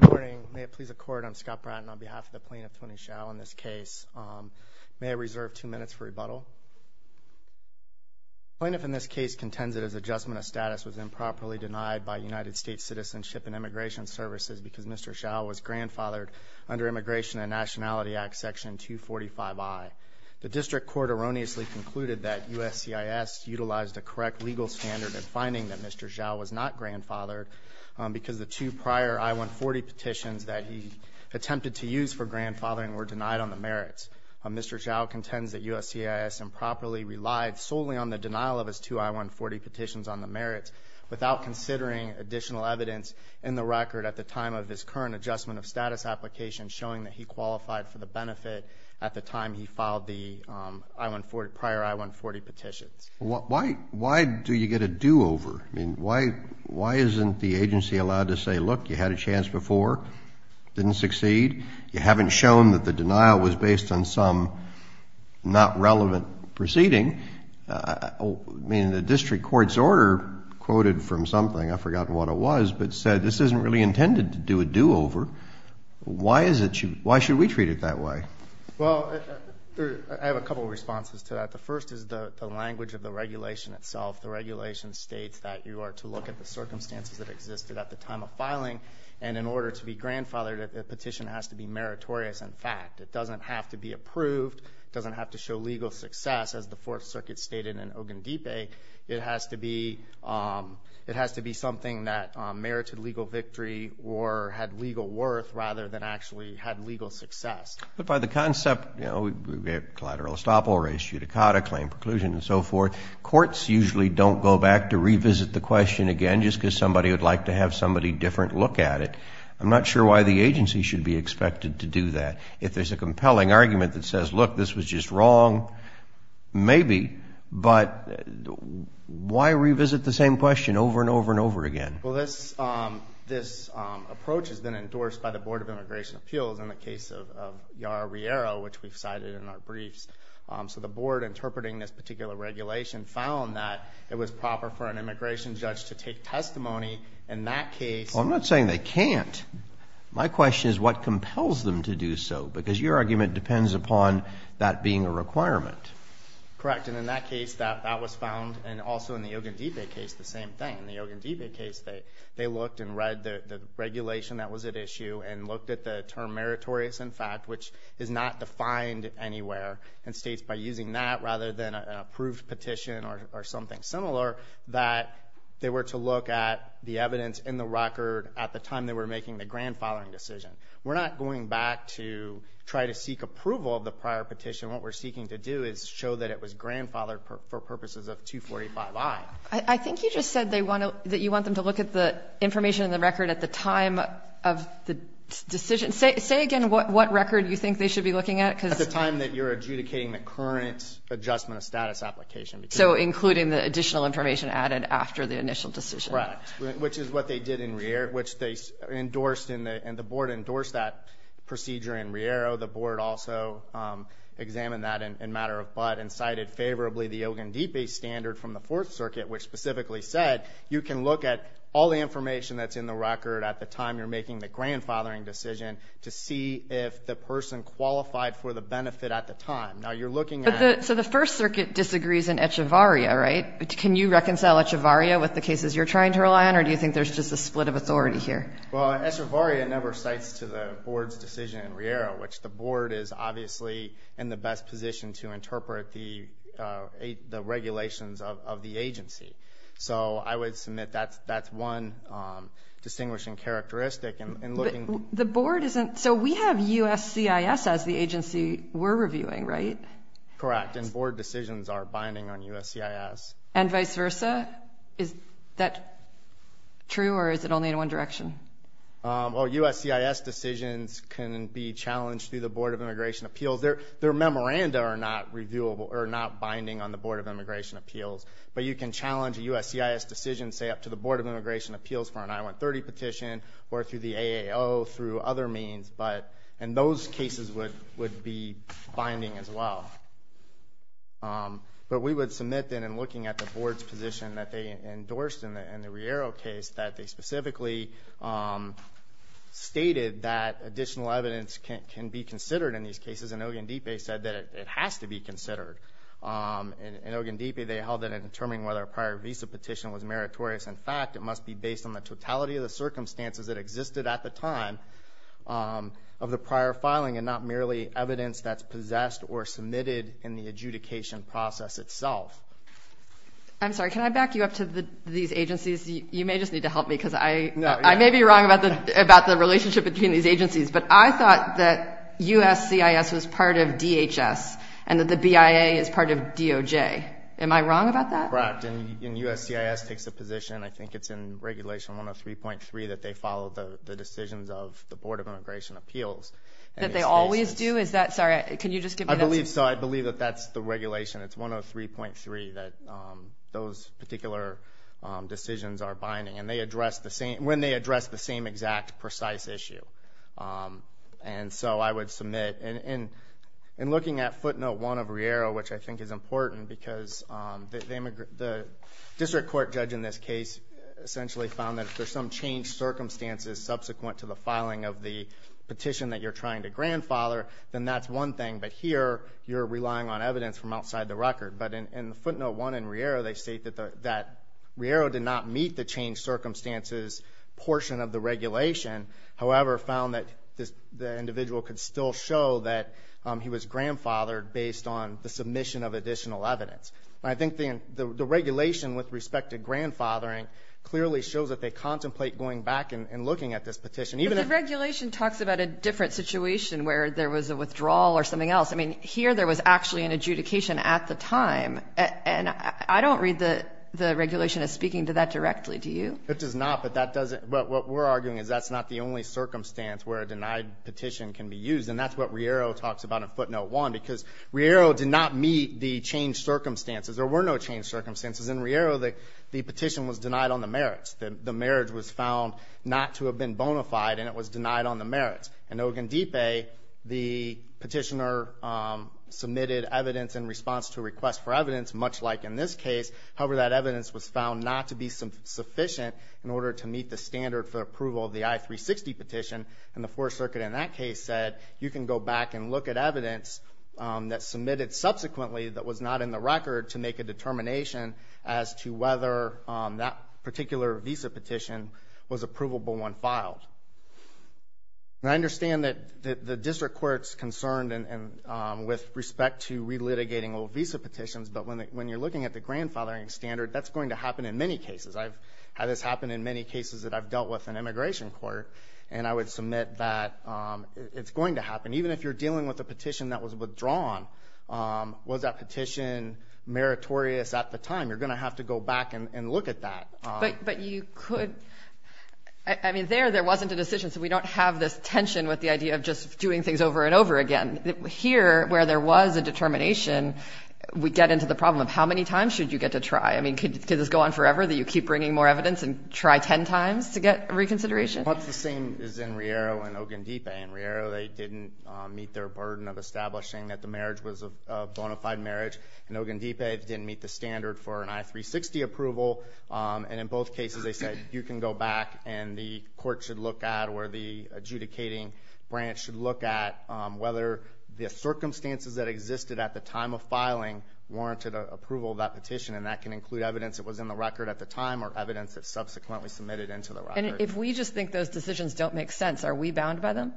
Good morning. May it please the court, I'm Scott Bratton on behalf of the plaintiff Tony Hsiao in this case. May I reserve two minutes for rebuttal? The plaintiff in this case contends that his adjustment of status was improperly denied by United States Citizenship and Immigration Services because Mr. Hsiao was grandfathered under Immigration and Nationality Act Section 245I. The district court erroneously concluded that USCIS utilized a correct legal standard in finding that Mr. Hsiao was not grandfathered because the two prior I-140 petitions that he attempted to use for grandfathering were denied on the merits. Mr. Hsiao contends that USCIS improperly relied solely on the denial of his two I-140 petitions on the merits without considering additional evidence in the record at the time of his current adjustment of status application showing that he qualified for the benefit at the time he filed the prior I-140 petitions. Why do you get a do-over? I mean, why isn't the agency allowed to say, look, you had a chance before, didn't succeed. You haven't shown that the denial was based on some not relevant proceeding. I mean, the district court's order quoted from something, I've forgotten what it was, but said this isn't really intended to do a do-over. Why should we treat it that way? Well, I have a couple responses to that. The first is the language of the regulation itself. The regulation states that you are to look at the circumstances that existed at the time of filing, and in order to be grandfathered, a petition has to be meritorious in fact. It doesn't have to be approved. It doesn't have to show legal success. As the Fourth Circuit stated in Ogundipe, it has to be something that merited legal victory or had legal worth rather than actually had legal success. But by the concept, you know, collateral estoppel, res judicata, claim preclusion and so forth, courts usually don't go back to revisit the question again just because somebody would like to have somebody different look at it. I'm not sure why the agency should be expected to do that. If there's a compelling argument that says, look, this was just wrong, maybe, but why revisit the same question over and over and over again? Well, this approach has been endorsed by the Board of Immigration Appeals in the case of Yara Riera, which we've cited in our briefs. So the board interpreting this particular regulation found that it was proper for an immigration judge to take testimony in that case. Well, I'm not saying they can't. My question is what compels them to do so because your argument depends upon that being a requirement. Correct, and in that case, that was found, and also in the Ogundipe case, the same thing. In the Ogundipe case, they looked and read the regulation that was at issue and looked at the term meritorious, in fact, which is not defined anywhere and states by using that rather than an approved petition or something similar that they were to look at the evidence in the record at the time they were making the grandfathering decision. We're not going back to try to seek approval of the prior petition. What we're seeking to do is show that it was grandfathered for purposes of 245-I. I think you just said that you want them to look at the information in the record at the time of the decision. Say again what record you think they should be looking at. At the time that you're adjudicating the current adjustment of status application. So including the additional information added after the initial decision. Correct, which is what they did in Riera, which they endorsed, and the board endorsed that procedure in Riera. The board also examined that in matter of but and cited favorably the Ogundipe standard from the Fourth Circuit, which specifically said you can look at all the information that's in the record at the time you're making the grandfathering decision to see if the person qualified for the benefit at the time. Now, you're looking at. So the First Circuit disagrees in Echevarria, right? Can you reconcile Echevarria with the cases you're trying to rely on, or do you think there's just a split of authority here? Well, Echevarria never cites to the board's decision in Riera, which the board is obviously in the best position to interpret the regulations of the agency. So I would submit that's one distinguishing characteristic in looking. The board isn't. So we have USCIS as the agency we're reviewing, right? Correct, and board decisions are binding on USCIS. And vice versa? Is that true, or is it only in one direction? Well, USCIS decisions can be challenged through the Board of Immigration Appeals. Their memoranda are not binding on the Board of Immigration Appeals, but you can challenge a USCIS decision, say, up to the Board of Immigration Appeals for an I-130 petition or through the AAO through other means, and those cases would be binding as well. But we would submit, then, in looking at the board's position that they endorsed in the Riera case, that they specifically stated that additional evidence can be considered in these cases, and Ogundipe said that it has to be considered. In Ogundipe, they held it in determining whether a prior visa petition was meritorious. In fact, it must be based on the totality of the circumstances that existed at the time of the prior filing and not merely evidence that's possessed or submitted in the adjudication process itself. I'm sorry, can I back you up to these agencies? You may just need to help me because I may be wrong about the relationship between these agencies, but I thought that USCIS was part of DHS and that the BIA is part of DOJ. Am I wrong about that? Correct, and USCIS takes a position, I think it's in Regulation 103.3, that they follow the decisions of the Board of Immigration Appeals. That they always do? Sorry, can you just give me that? I believe so. I believe that that's the regulation, it's 103.3, that those particular decisions are binding when they address the same exact precise issue. And so I would submit, in looking at footnote one of Riera, which I think is important because the district court judge in this case essentially found that if there's some changed circumstances subsequent to the filing of the petition that you're trying to grandfather, then that's one thing, but here you're relying on evidence from outside the record. But in footnote one in Riera, they state that Riera did not meet the changed circumstances portion of the regulation, however found that the individual could still show that he was grandfathered based on the submission of additional evidence. I think the regulation with respect to grandfathering clearly shows that they contemplate going back and looking at this petition. But the regulation talks about a different situation where there was a withdrawal or something else. I mean, here there was actually an adjudication at the time, and I don't read the regulation as speaking to that directly, do you? It does not, but what we're arguing is that's not the only circumstance where a denied petition can be used, and that's what Riera talks about in footnote one, because Riera did not meet the changed circumstances. There were no changed circumstances. In Riera, the petition was denied on the merits. The merits was found not to have been bona fide, and it was denied on the merits. In Ogundipe, the petitioner submitted evidence in response to a request for evidence, much like in this case. However, that evidence was found not to be sufficient in order to meet the standard for approval of the I-360 petition, and the Fourth Circuit in that case said you can go back and look at evidence that's submitted subsequently that was not in the record to make a determination as to whether that particular visa petition was a provable one filed. Now, I understand that the district court's concerned with respect to relitigating old visa petitions, but when you're looking at the grandfathering standard, that's going to happen in many cases. I've had this happen in many cases that I've dealt with in immigration court, and I would submit that it's going to happen. Even if you're dealing with a petition that was withdrawn, was that petition meritorious at the time? You're going to have to go back and look at that. But you could – I mean, there, there wasn't a decision, so we don't have this tension with the idea of just doing things over and over again. Here, where there was a determination, we get into the problem of how many times should you get to try? I mean, could this go on forever, that you keep bringing more evidence and try ten times to get reconsideration? Well, it's the same as in Riero and Ogundipe. In Riero, they didn't meet their burden of establishing that the marriage was a bona fide marriage, and Ogundipe didn't meet the standard for an I-360 approval. And in both cases, they said you can go back and the court should look at or the adjudicating branch should look at whether the circumstances that existed at the time of filing warranted approval of that petition, and that can include evidence that was in the record at the time or evidence that subsequently submitted into the record. And if we just think those decisions don't make sense, are we bound by them?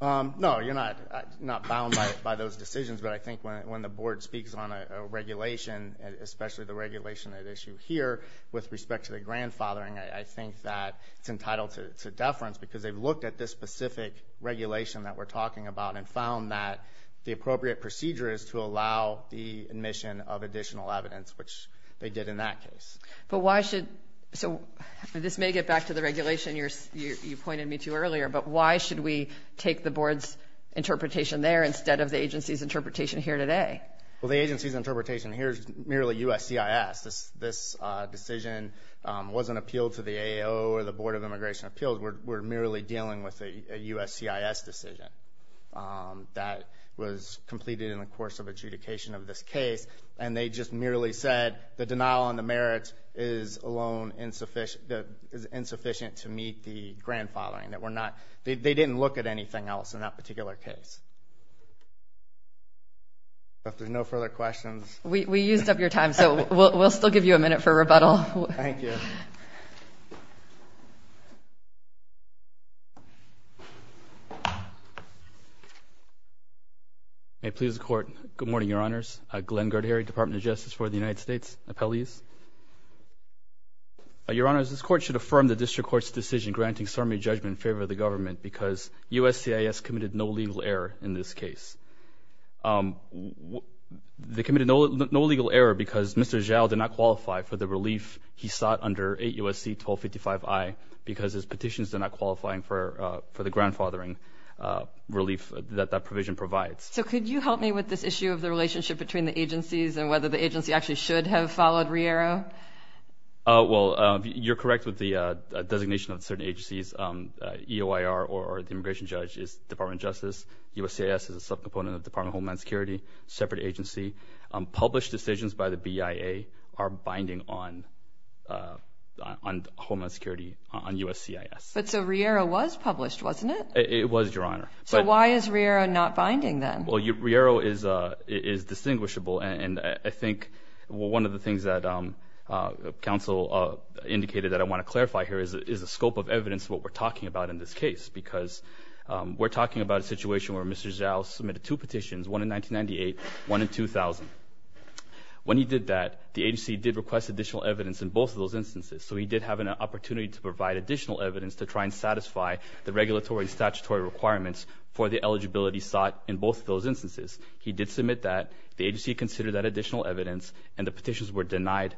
No, you're not bound by those decisions. But I think when the board speaks on a regulation, especially the regulation at issue here, with respect to the grandfathering, I think that it's entitled to deference because they've looked at this specific regulation that we're talking about and found that the appropriate procedure is to allow the admission of additional evidence, which they did in that case. So this may get back to the regulation you pointed me to earlier, but why should we take the board's interpretation there instead of the agency's interpretation here today? Well, the agency's interpretation here is merely USCIS. This decision wasn't appealed to the AO or the Board of Immigration Appeals. We're merely dealing with a USCIS decision that was completed in the course of adjudication of this case, and they just merely said the denial on the merits is alone insufficient to meet the grandfathering. They didn't look at anything else in that particular case. If there's no further questions. We used up your time, so we'll still give you a minute for rebuttal. Thank you. May it please the Court. Good morning, Your Honors. Glenn Gerdhary, Department of Justice for the United States, Appellees. Your Honors, this Court should affirm the District Court's decision granting summary judgment in favor of the government because USCIS committed no legal error in this case. They committed no legal error because Mr. Zhao did not qualify for the relief he sought under 8 U.S.C. 1255I because his petitions did not qualify for the grandfathering relief that that provision provides. So could you help me with this issue of the relationship between the agencies and whether the agency actually should have followed Riero? Well, you're correct with the designation of certain agencies. USCIS is a subcomponent of the Department of Homeland Security, separate agency. Published decisions by the BIA are binding on Homeland Security, on USCIS. But so Riero was published, wasn't it? It was, Your Honor. So why is Riero not binding then? Well, Riero is distinguishable, and I think one of the things that counsel indicated that I want to clarify here is the scope of evidence of what we're talking about in this case because we're talking about a situation where Mr. Zhao submitted two petitions, one in 1998, one in 2000. When he did that, the agency did request additional evidence in both of those instances, so he did have an opportunity to provide additional evidence to try and satisfy the regulatory and statutory requirements for the eligibility sought in both of those instances. He did submit that. The agency considered that additional evidence, and the petitions were denied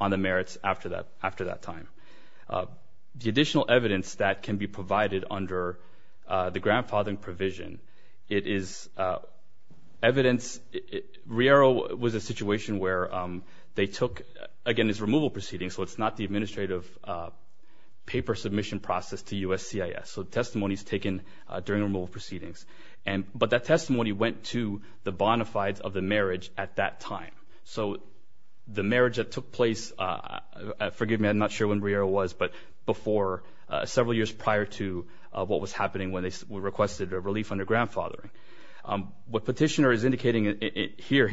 on the merits after that time. The additional evidence that can be provided under the grandfathering provision, it is evidence. Riero was a situation where they took, again, it's removal proceedings, so it's not the administrative paper submission process to USCIS. So testimony is taken during removal proceedings. But that testimony went to the bona fides of the marriage at that time. So the marriage that took place, forgive me, I'm not sure when Riero was, but before several years prior to what was happening when they requested a relief under grandfathering. What petitioner is indicating here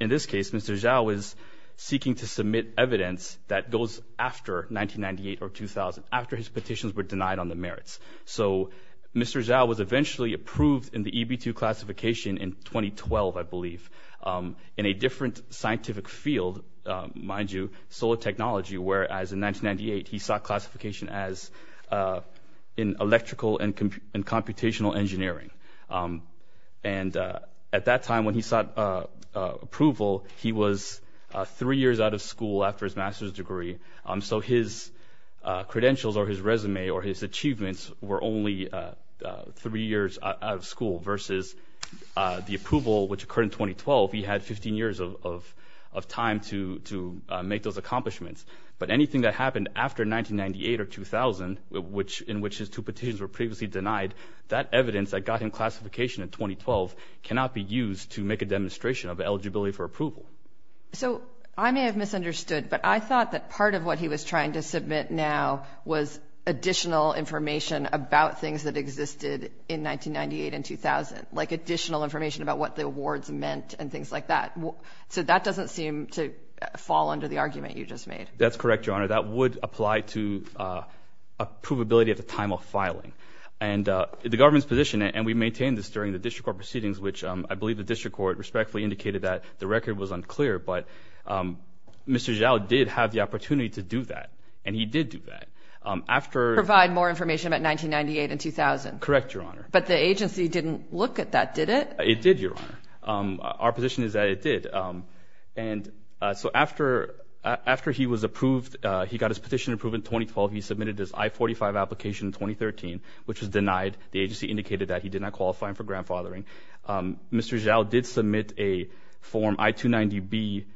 in this case, Mr. Zhao is seeking to submit evidence that goes after 1998 or 2000, after his petitions were denied on the merits. So Mr. Zhao was eventually approved in the EB2 classification in 2012, I believe, in a different scientific field, mind you, solar technology, whereas in 1998 he sought classification in electrical and computational engineering. And at that time when he sought approval, he was three years out of school after his master's degree. So his credentials or his resume or his achievements were only three years out of school versus the approval which occurred in 2012. He had 15 years of time to make those accomplishments. But anything that happened after 1998 or 2000, in which his two petitions were previously denied, that evidence that got him classification in 2012 cannot be used to make a demonstration of eligibility for approval. So I may have misunderstood, but I thought that part of what he was trying to submit now was additional information about things that existed in 1998 and 2000, like additional information about what the awards meant and things like that. So that doesn't seem to fall under the argument you just made. That's correct, Your Honor. That would apply to approvability at the time of filing. And the government's position, and we maintained this during the district court proceedings, which I believe the district court respectfully indicated that the record was unclear, but Mr. Zhao did have the opportunity to do that, and he did do that. Provide more information about 1998 and 2000. Correct, Your Honor. But the agency didn't look at that, did it? It did, Your Honor. Our position is that it did. And so after he was approved, he got his petition approved in 2012. He submitted his I-45 application in 2013, which was denied. The agency indicated that he did not qualify for grandfathering. Mr. Zhao did submit a Form I-290B,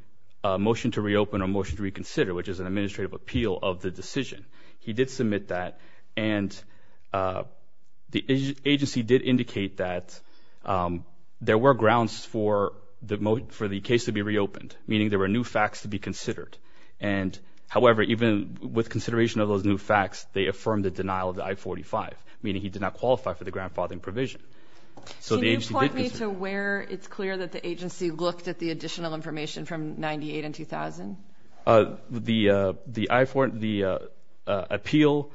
Motion to Reopen or Motion to Reconsider, which is an administrative appeal of the decision. He did submit that, and the agency did indicate that there were grounds for the case to be reopened, meaning there were new facts to be considered. However, even with consideration of those new facts, they affirmed the denial of the I-45, meaning he did not qualify for the grandfathering provision. So the agency did consider it. Can you point me to where it's clear that the agency looked at the additional information from 1998 and 2000? The appeal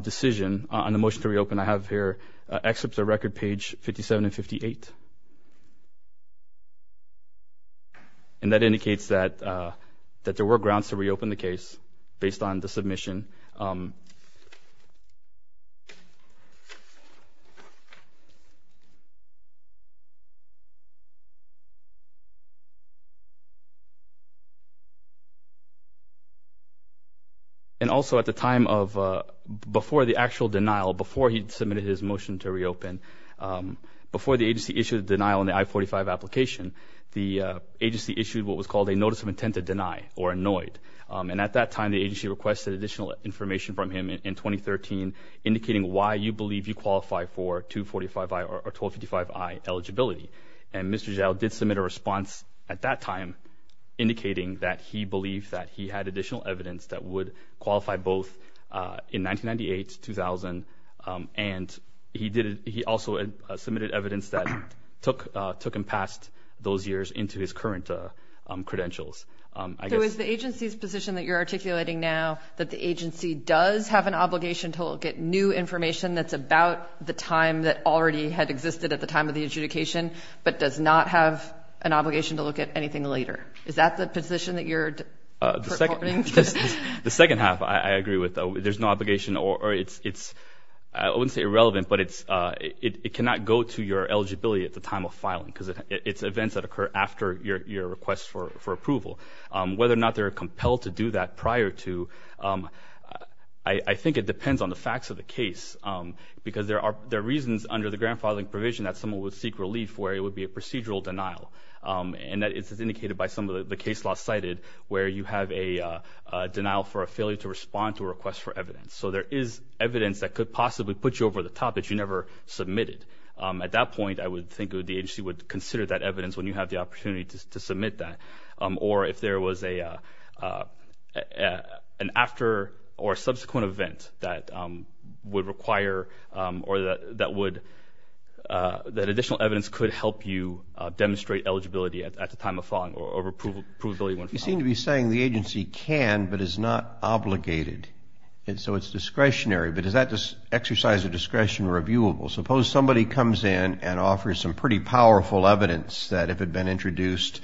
decision on the Motion to Reopen I have here excerpts of Record Page 57 and 58, and that indicates that there were grounds to reopen the case based on the submission. And also at the time of before the actual denial, before he submitted his Motion to Reopen, before the agency issued a denial on the I-45 application, the agency issued what was called a Notice of Intent to Deny or a NOID. And at that time, the agency requested additional information from him in 2013, indicating why you believe you qualify for 245I or 1255I eligibility. And Mr. Zhao did submit a response at that time, indicating that he believed that he had additional evidence that would qualify both in 1998, 2000, and he also submitted evidence that took him past those years into his current credentials. So is the agency's position that you're articulating now that the agency does have an obligation to look at new information that's about the time that already had existed at the time of the adjudication but does not have an obligation to look at anything later? Is that the position that you're supporting? The second half I agree with. There's no obligation or it's, I wouldn't say irrelevant, but it cannot go to your eligibility at the time of filing because it's events that occur after your request for approval. Whether or not they're compelled to do that prior to, I think it depends on the facts of the case because there are reasons under the grand filing provision that someone would seek relief where it would be a procedural denial. And that is indicated by some of the case law cited where you have a denial for a failure to respond to a request for evidence. So there is evidence that could possibly put you over the top that you never submitted. At that point, I would think the agency would consider that evidence when you have the opportunity to submit that. Or if there was an after or subsequent event that would require or that additional evidence could help you demonstrate eligibility at the time of filing or approvability when filing. You seem to be saying the agency can but is not obligated. And so it's discretionary. But is that exercise of discretion reviewable? Suppose somebody comes in and offers some pretty powerful evidence that if it had been introduced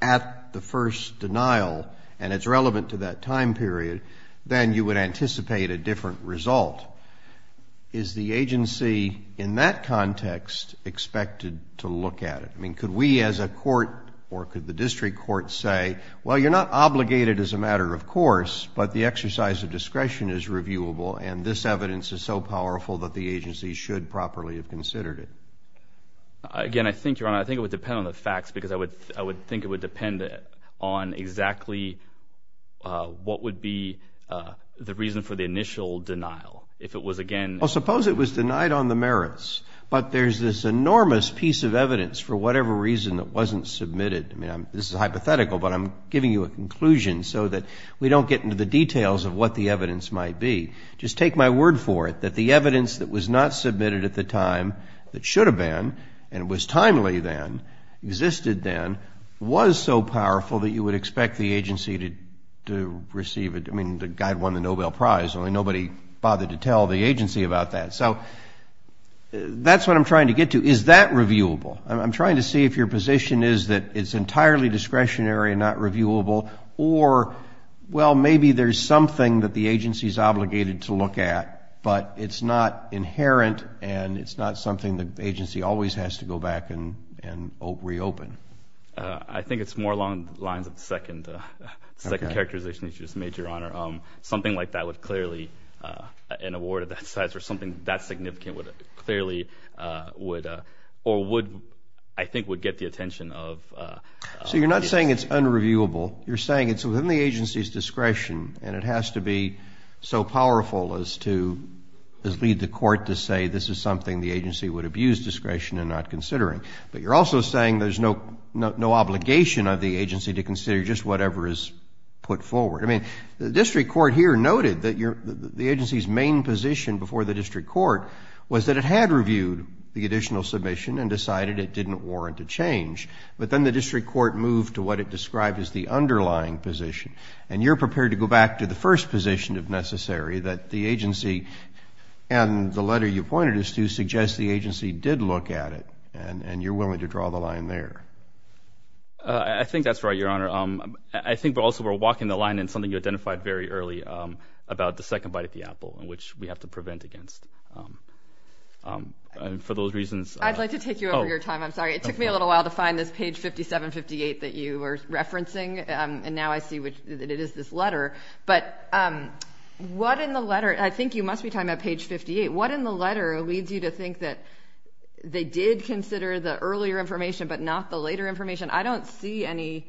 at the first denial and it's relevant to that time period, then you would anticipate a different result. Is the agency in that context expected to look at it? I mean, could we as a court or could the district court say, well, you're not obligated as a matter of course, but the exercise of discretion is reviewable and this evidence is so powerful that the agency should properly have considered it? Again, I think, Your Honor, I think it would depend on the facts because I would think it would depend on exactly what would be the reason for the initial denial. If it was again- Well, suppose it was denied on the merits, but there's this enormous piece of evidence for whatever reason that wasn't submitted. This is hypothetical, but I'm giving you a conclusion so that we don't get into the details of what the evidence might be. Just take my word for it that the evidence that was not submitted at the time, that should have been and was timely then, existed then, was so powerful that you would expect the agency to receive it. I mean, the guy won the Nobel Prize, only nobody bothered to tell the agency about that. So that's what I'm trying to get to. Is that reviewable? I'm trying to see if your position is that it's entirely discretionary and not reviewable or, well, maybe there's something that the agency's obligated to look at, but it's not inherent and it's not something the agency always has to go back and reopen. I think it's more along the lines of the second characterization that you just made, Your Honor. Something like that would clearly-an award of that size or something that significant would clearly- or would, I think, would get the attention of- So you're not saying it's unreviewable. You're saying it's within the agency's discretion and it has to be so powerful as to- as lead the court to say this is something the agency would abuse discretion in not considering. But you're also saying there's no obligation of the agency to consider just whatever is put forward. I mean, the district court here noted that the agency's main position before the district court was that it had reviewed the additional submission and decided it didn't warrant a change. But then the district court moved to what it described as the underlying position. And you're prepared to go back to the first position, if necessary, that the agency- and the letter you pointed is to suggest the agency did look at it, and you're willing to draw the line there. I think that's right, Your Honor. I think also we're walking the line in something you identified very early about the second bite at the apple, which we have to prevent against. And for those reasons- I'd like to take you over your time. I'm sorry. It took me a little while to find this page 5758 that you were referencing, and now I see that it is this letter. But what in the letter-I think you must be talking about page 58- what in the letter leads you to think that they did consider the earlier information but not the later information? I don't see any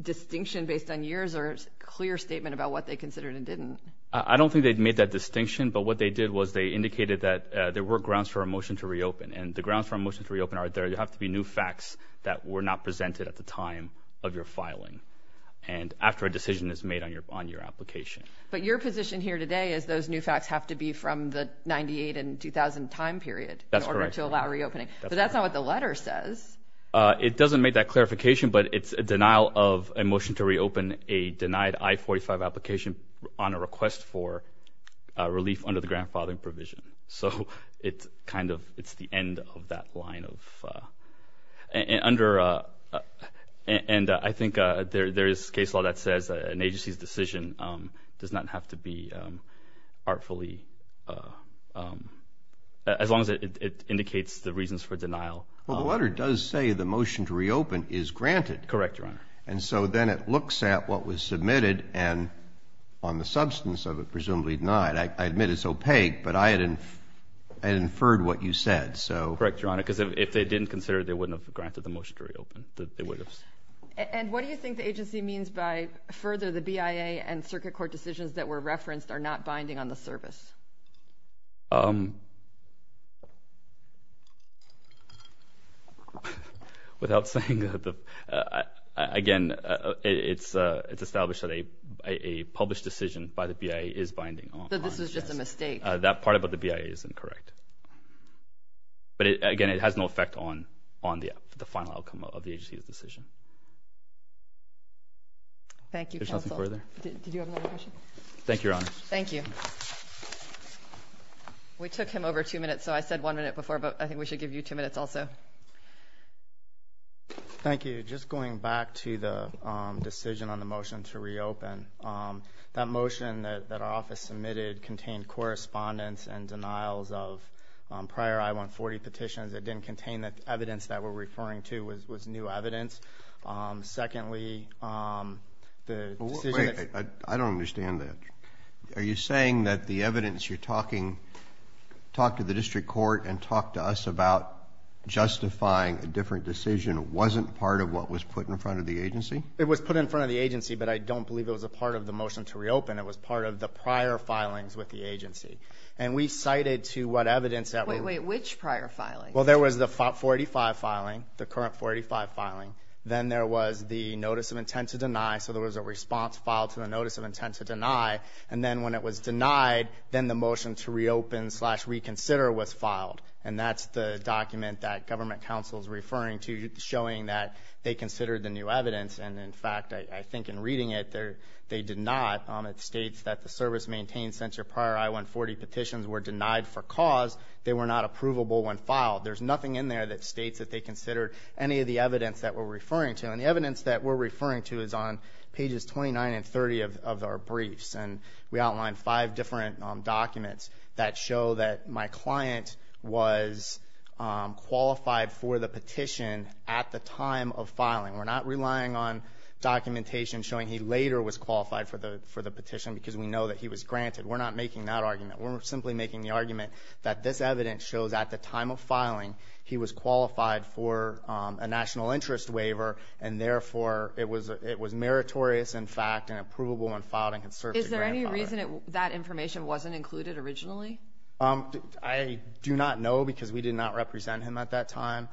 distinction based on years or a clear statement about what they considered and didn't. I don't think they made that distinction, but what they did was they indicated that there were grounds for a motion to reopen. And the grounds for a motion to reopen are there have to be new facts that were not presented at the time of your filing and after a decision is made on your application. But your position here today is those new facts have to be from the 1998 and 2000 time period in order to allow reopening. That's correct. But that's not what the letter says. It doesn't make that clarification, but it's a denial of a motion to reopen a denied I-45 application on a request for relief under the grandfathering provision. So it's kind of-it's the end of that line of-and under-and I think there is case law that says an agency's decision does not have to be artfully-as long as it indicates the reasons for denial. Well, the letter does say the motion to reopen is granted. Correct, Your Honor. And so then it looks at what was submitted and on the substance of it presumably denied. I admit it's opaque, but I had inferred what you said, so- Correct, Your Honor, because if they didn't consider it, they wouldn't have granted the motion to reopen. They would have. And what do you think the agency means by further the BIA and circuit court decisions that were referenced are not binding on the service? Without saying that the-again, it's established that a published decision by the BIA is binding on- So this was just a mistake. That part about the BIA is incorrect. But, again, it has no effect on the final outcome of the agency's decision. Thank you, counsel. Is there something further? Did you have another question? Thank you, Your Honor. Thank you. We took him over two minutes, so I said one minute before, but I think we should give you two minutes also. Thank you. Just going back to the decision on the motion to reopen, that motion that our office submitted contained correspondence and denials of prior I-140 petitions. It didn't contain the evidence that we're referring to was new evidence. Secondly, the decision- Wait. I don't understand that. Are you saying that the evidence you're talking-talk to the district court and talk to us about justifying a different decision wasn't part of what was put in front of the agency? It was put in front of the agency, but I don't believe it was a part of the motion to reopen. It was part of the prior filings with the agency. And we cited to what evidence that- Wait, wait. Which prior filing? Well, there was the 485 filing, the current 485 filing. Then there was the notice of intent to deny. So there was a response filed to the notice of intent to deny. And then when it was denied, then the motion to reopen slash reconsider was filed. And that's the document that government counsel is referring to, showing that they considered the new evidence. And, in fact, I think in reading it, they did not. It states that the service maintained since your prior I-140 petitions were denied for cause. They were not approvable when filed. There's nothing in there that states that they considered any of the evidence that we're referring to. And the evidence that we're referring to is on pages 29 and 30 of our briefs. And we outline five different documents that show that my client was qualified for the petition at the time of filing. We're not relying on documentation showing he later was qualified for the petition because we know that he was granted. We're not making that argument. We're simply making the argument that this evidence shows at the time of filing he was qualified for a national interest waiver, and therefore it was meritorious, in fact, and approvable when filed and can serve to grant. Is there any reason that information wasn't included originally? I do not know because we did not represent him at that time.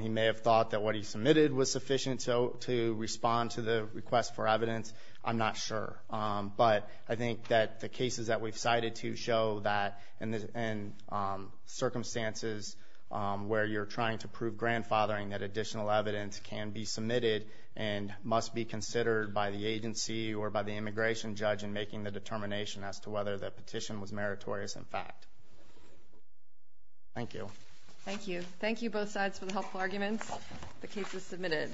He may have thought that what he submitted was sufficient to respond to the request for evidence. I'm not sure. But I think that the cases that we've cited to show that in circumstances where you're trying to prove grandfathering, that additional evidence can be submitted and must be considered by the agency or by the immigration judge in making the determination as to whether the petition was meritorious, in fact. Thank you. Thank you. Thank you both sides for the helpful arguments. The case is submitted.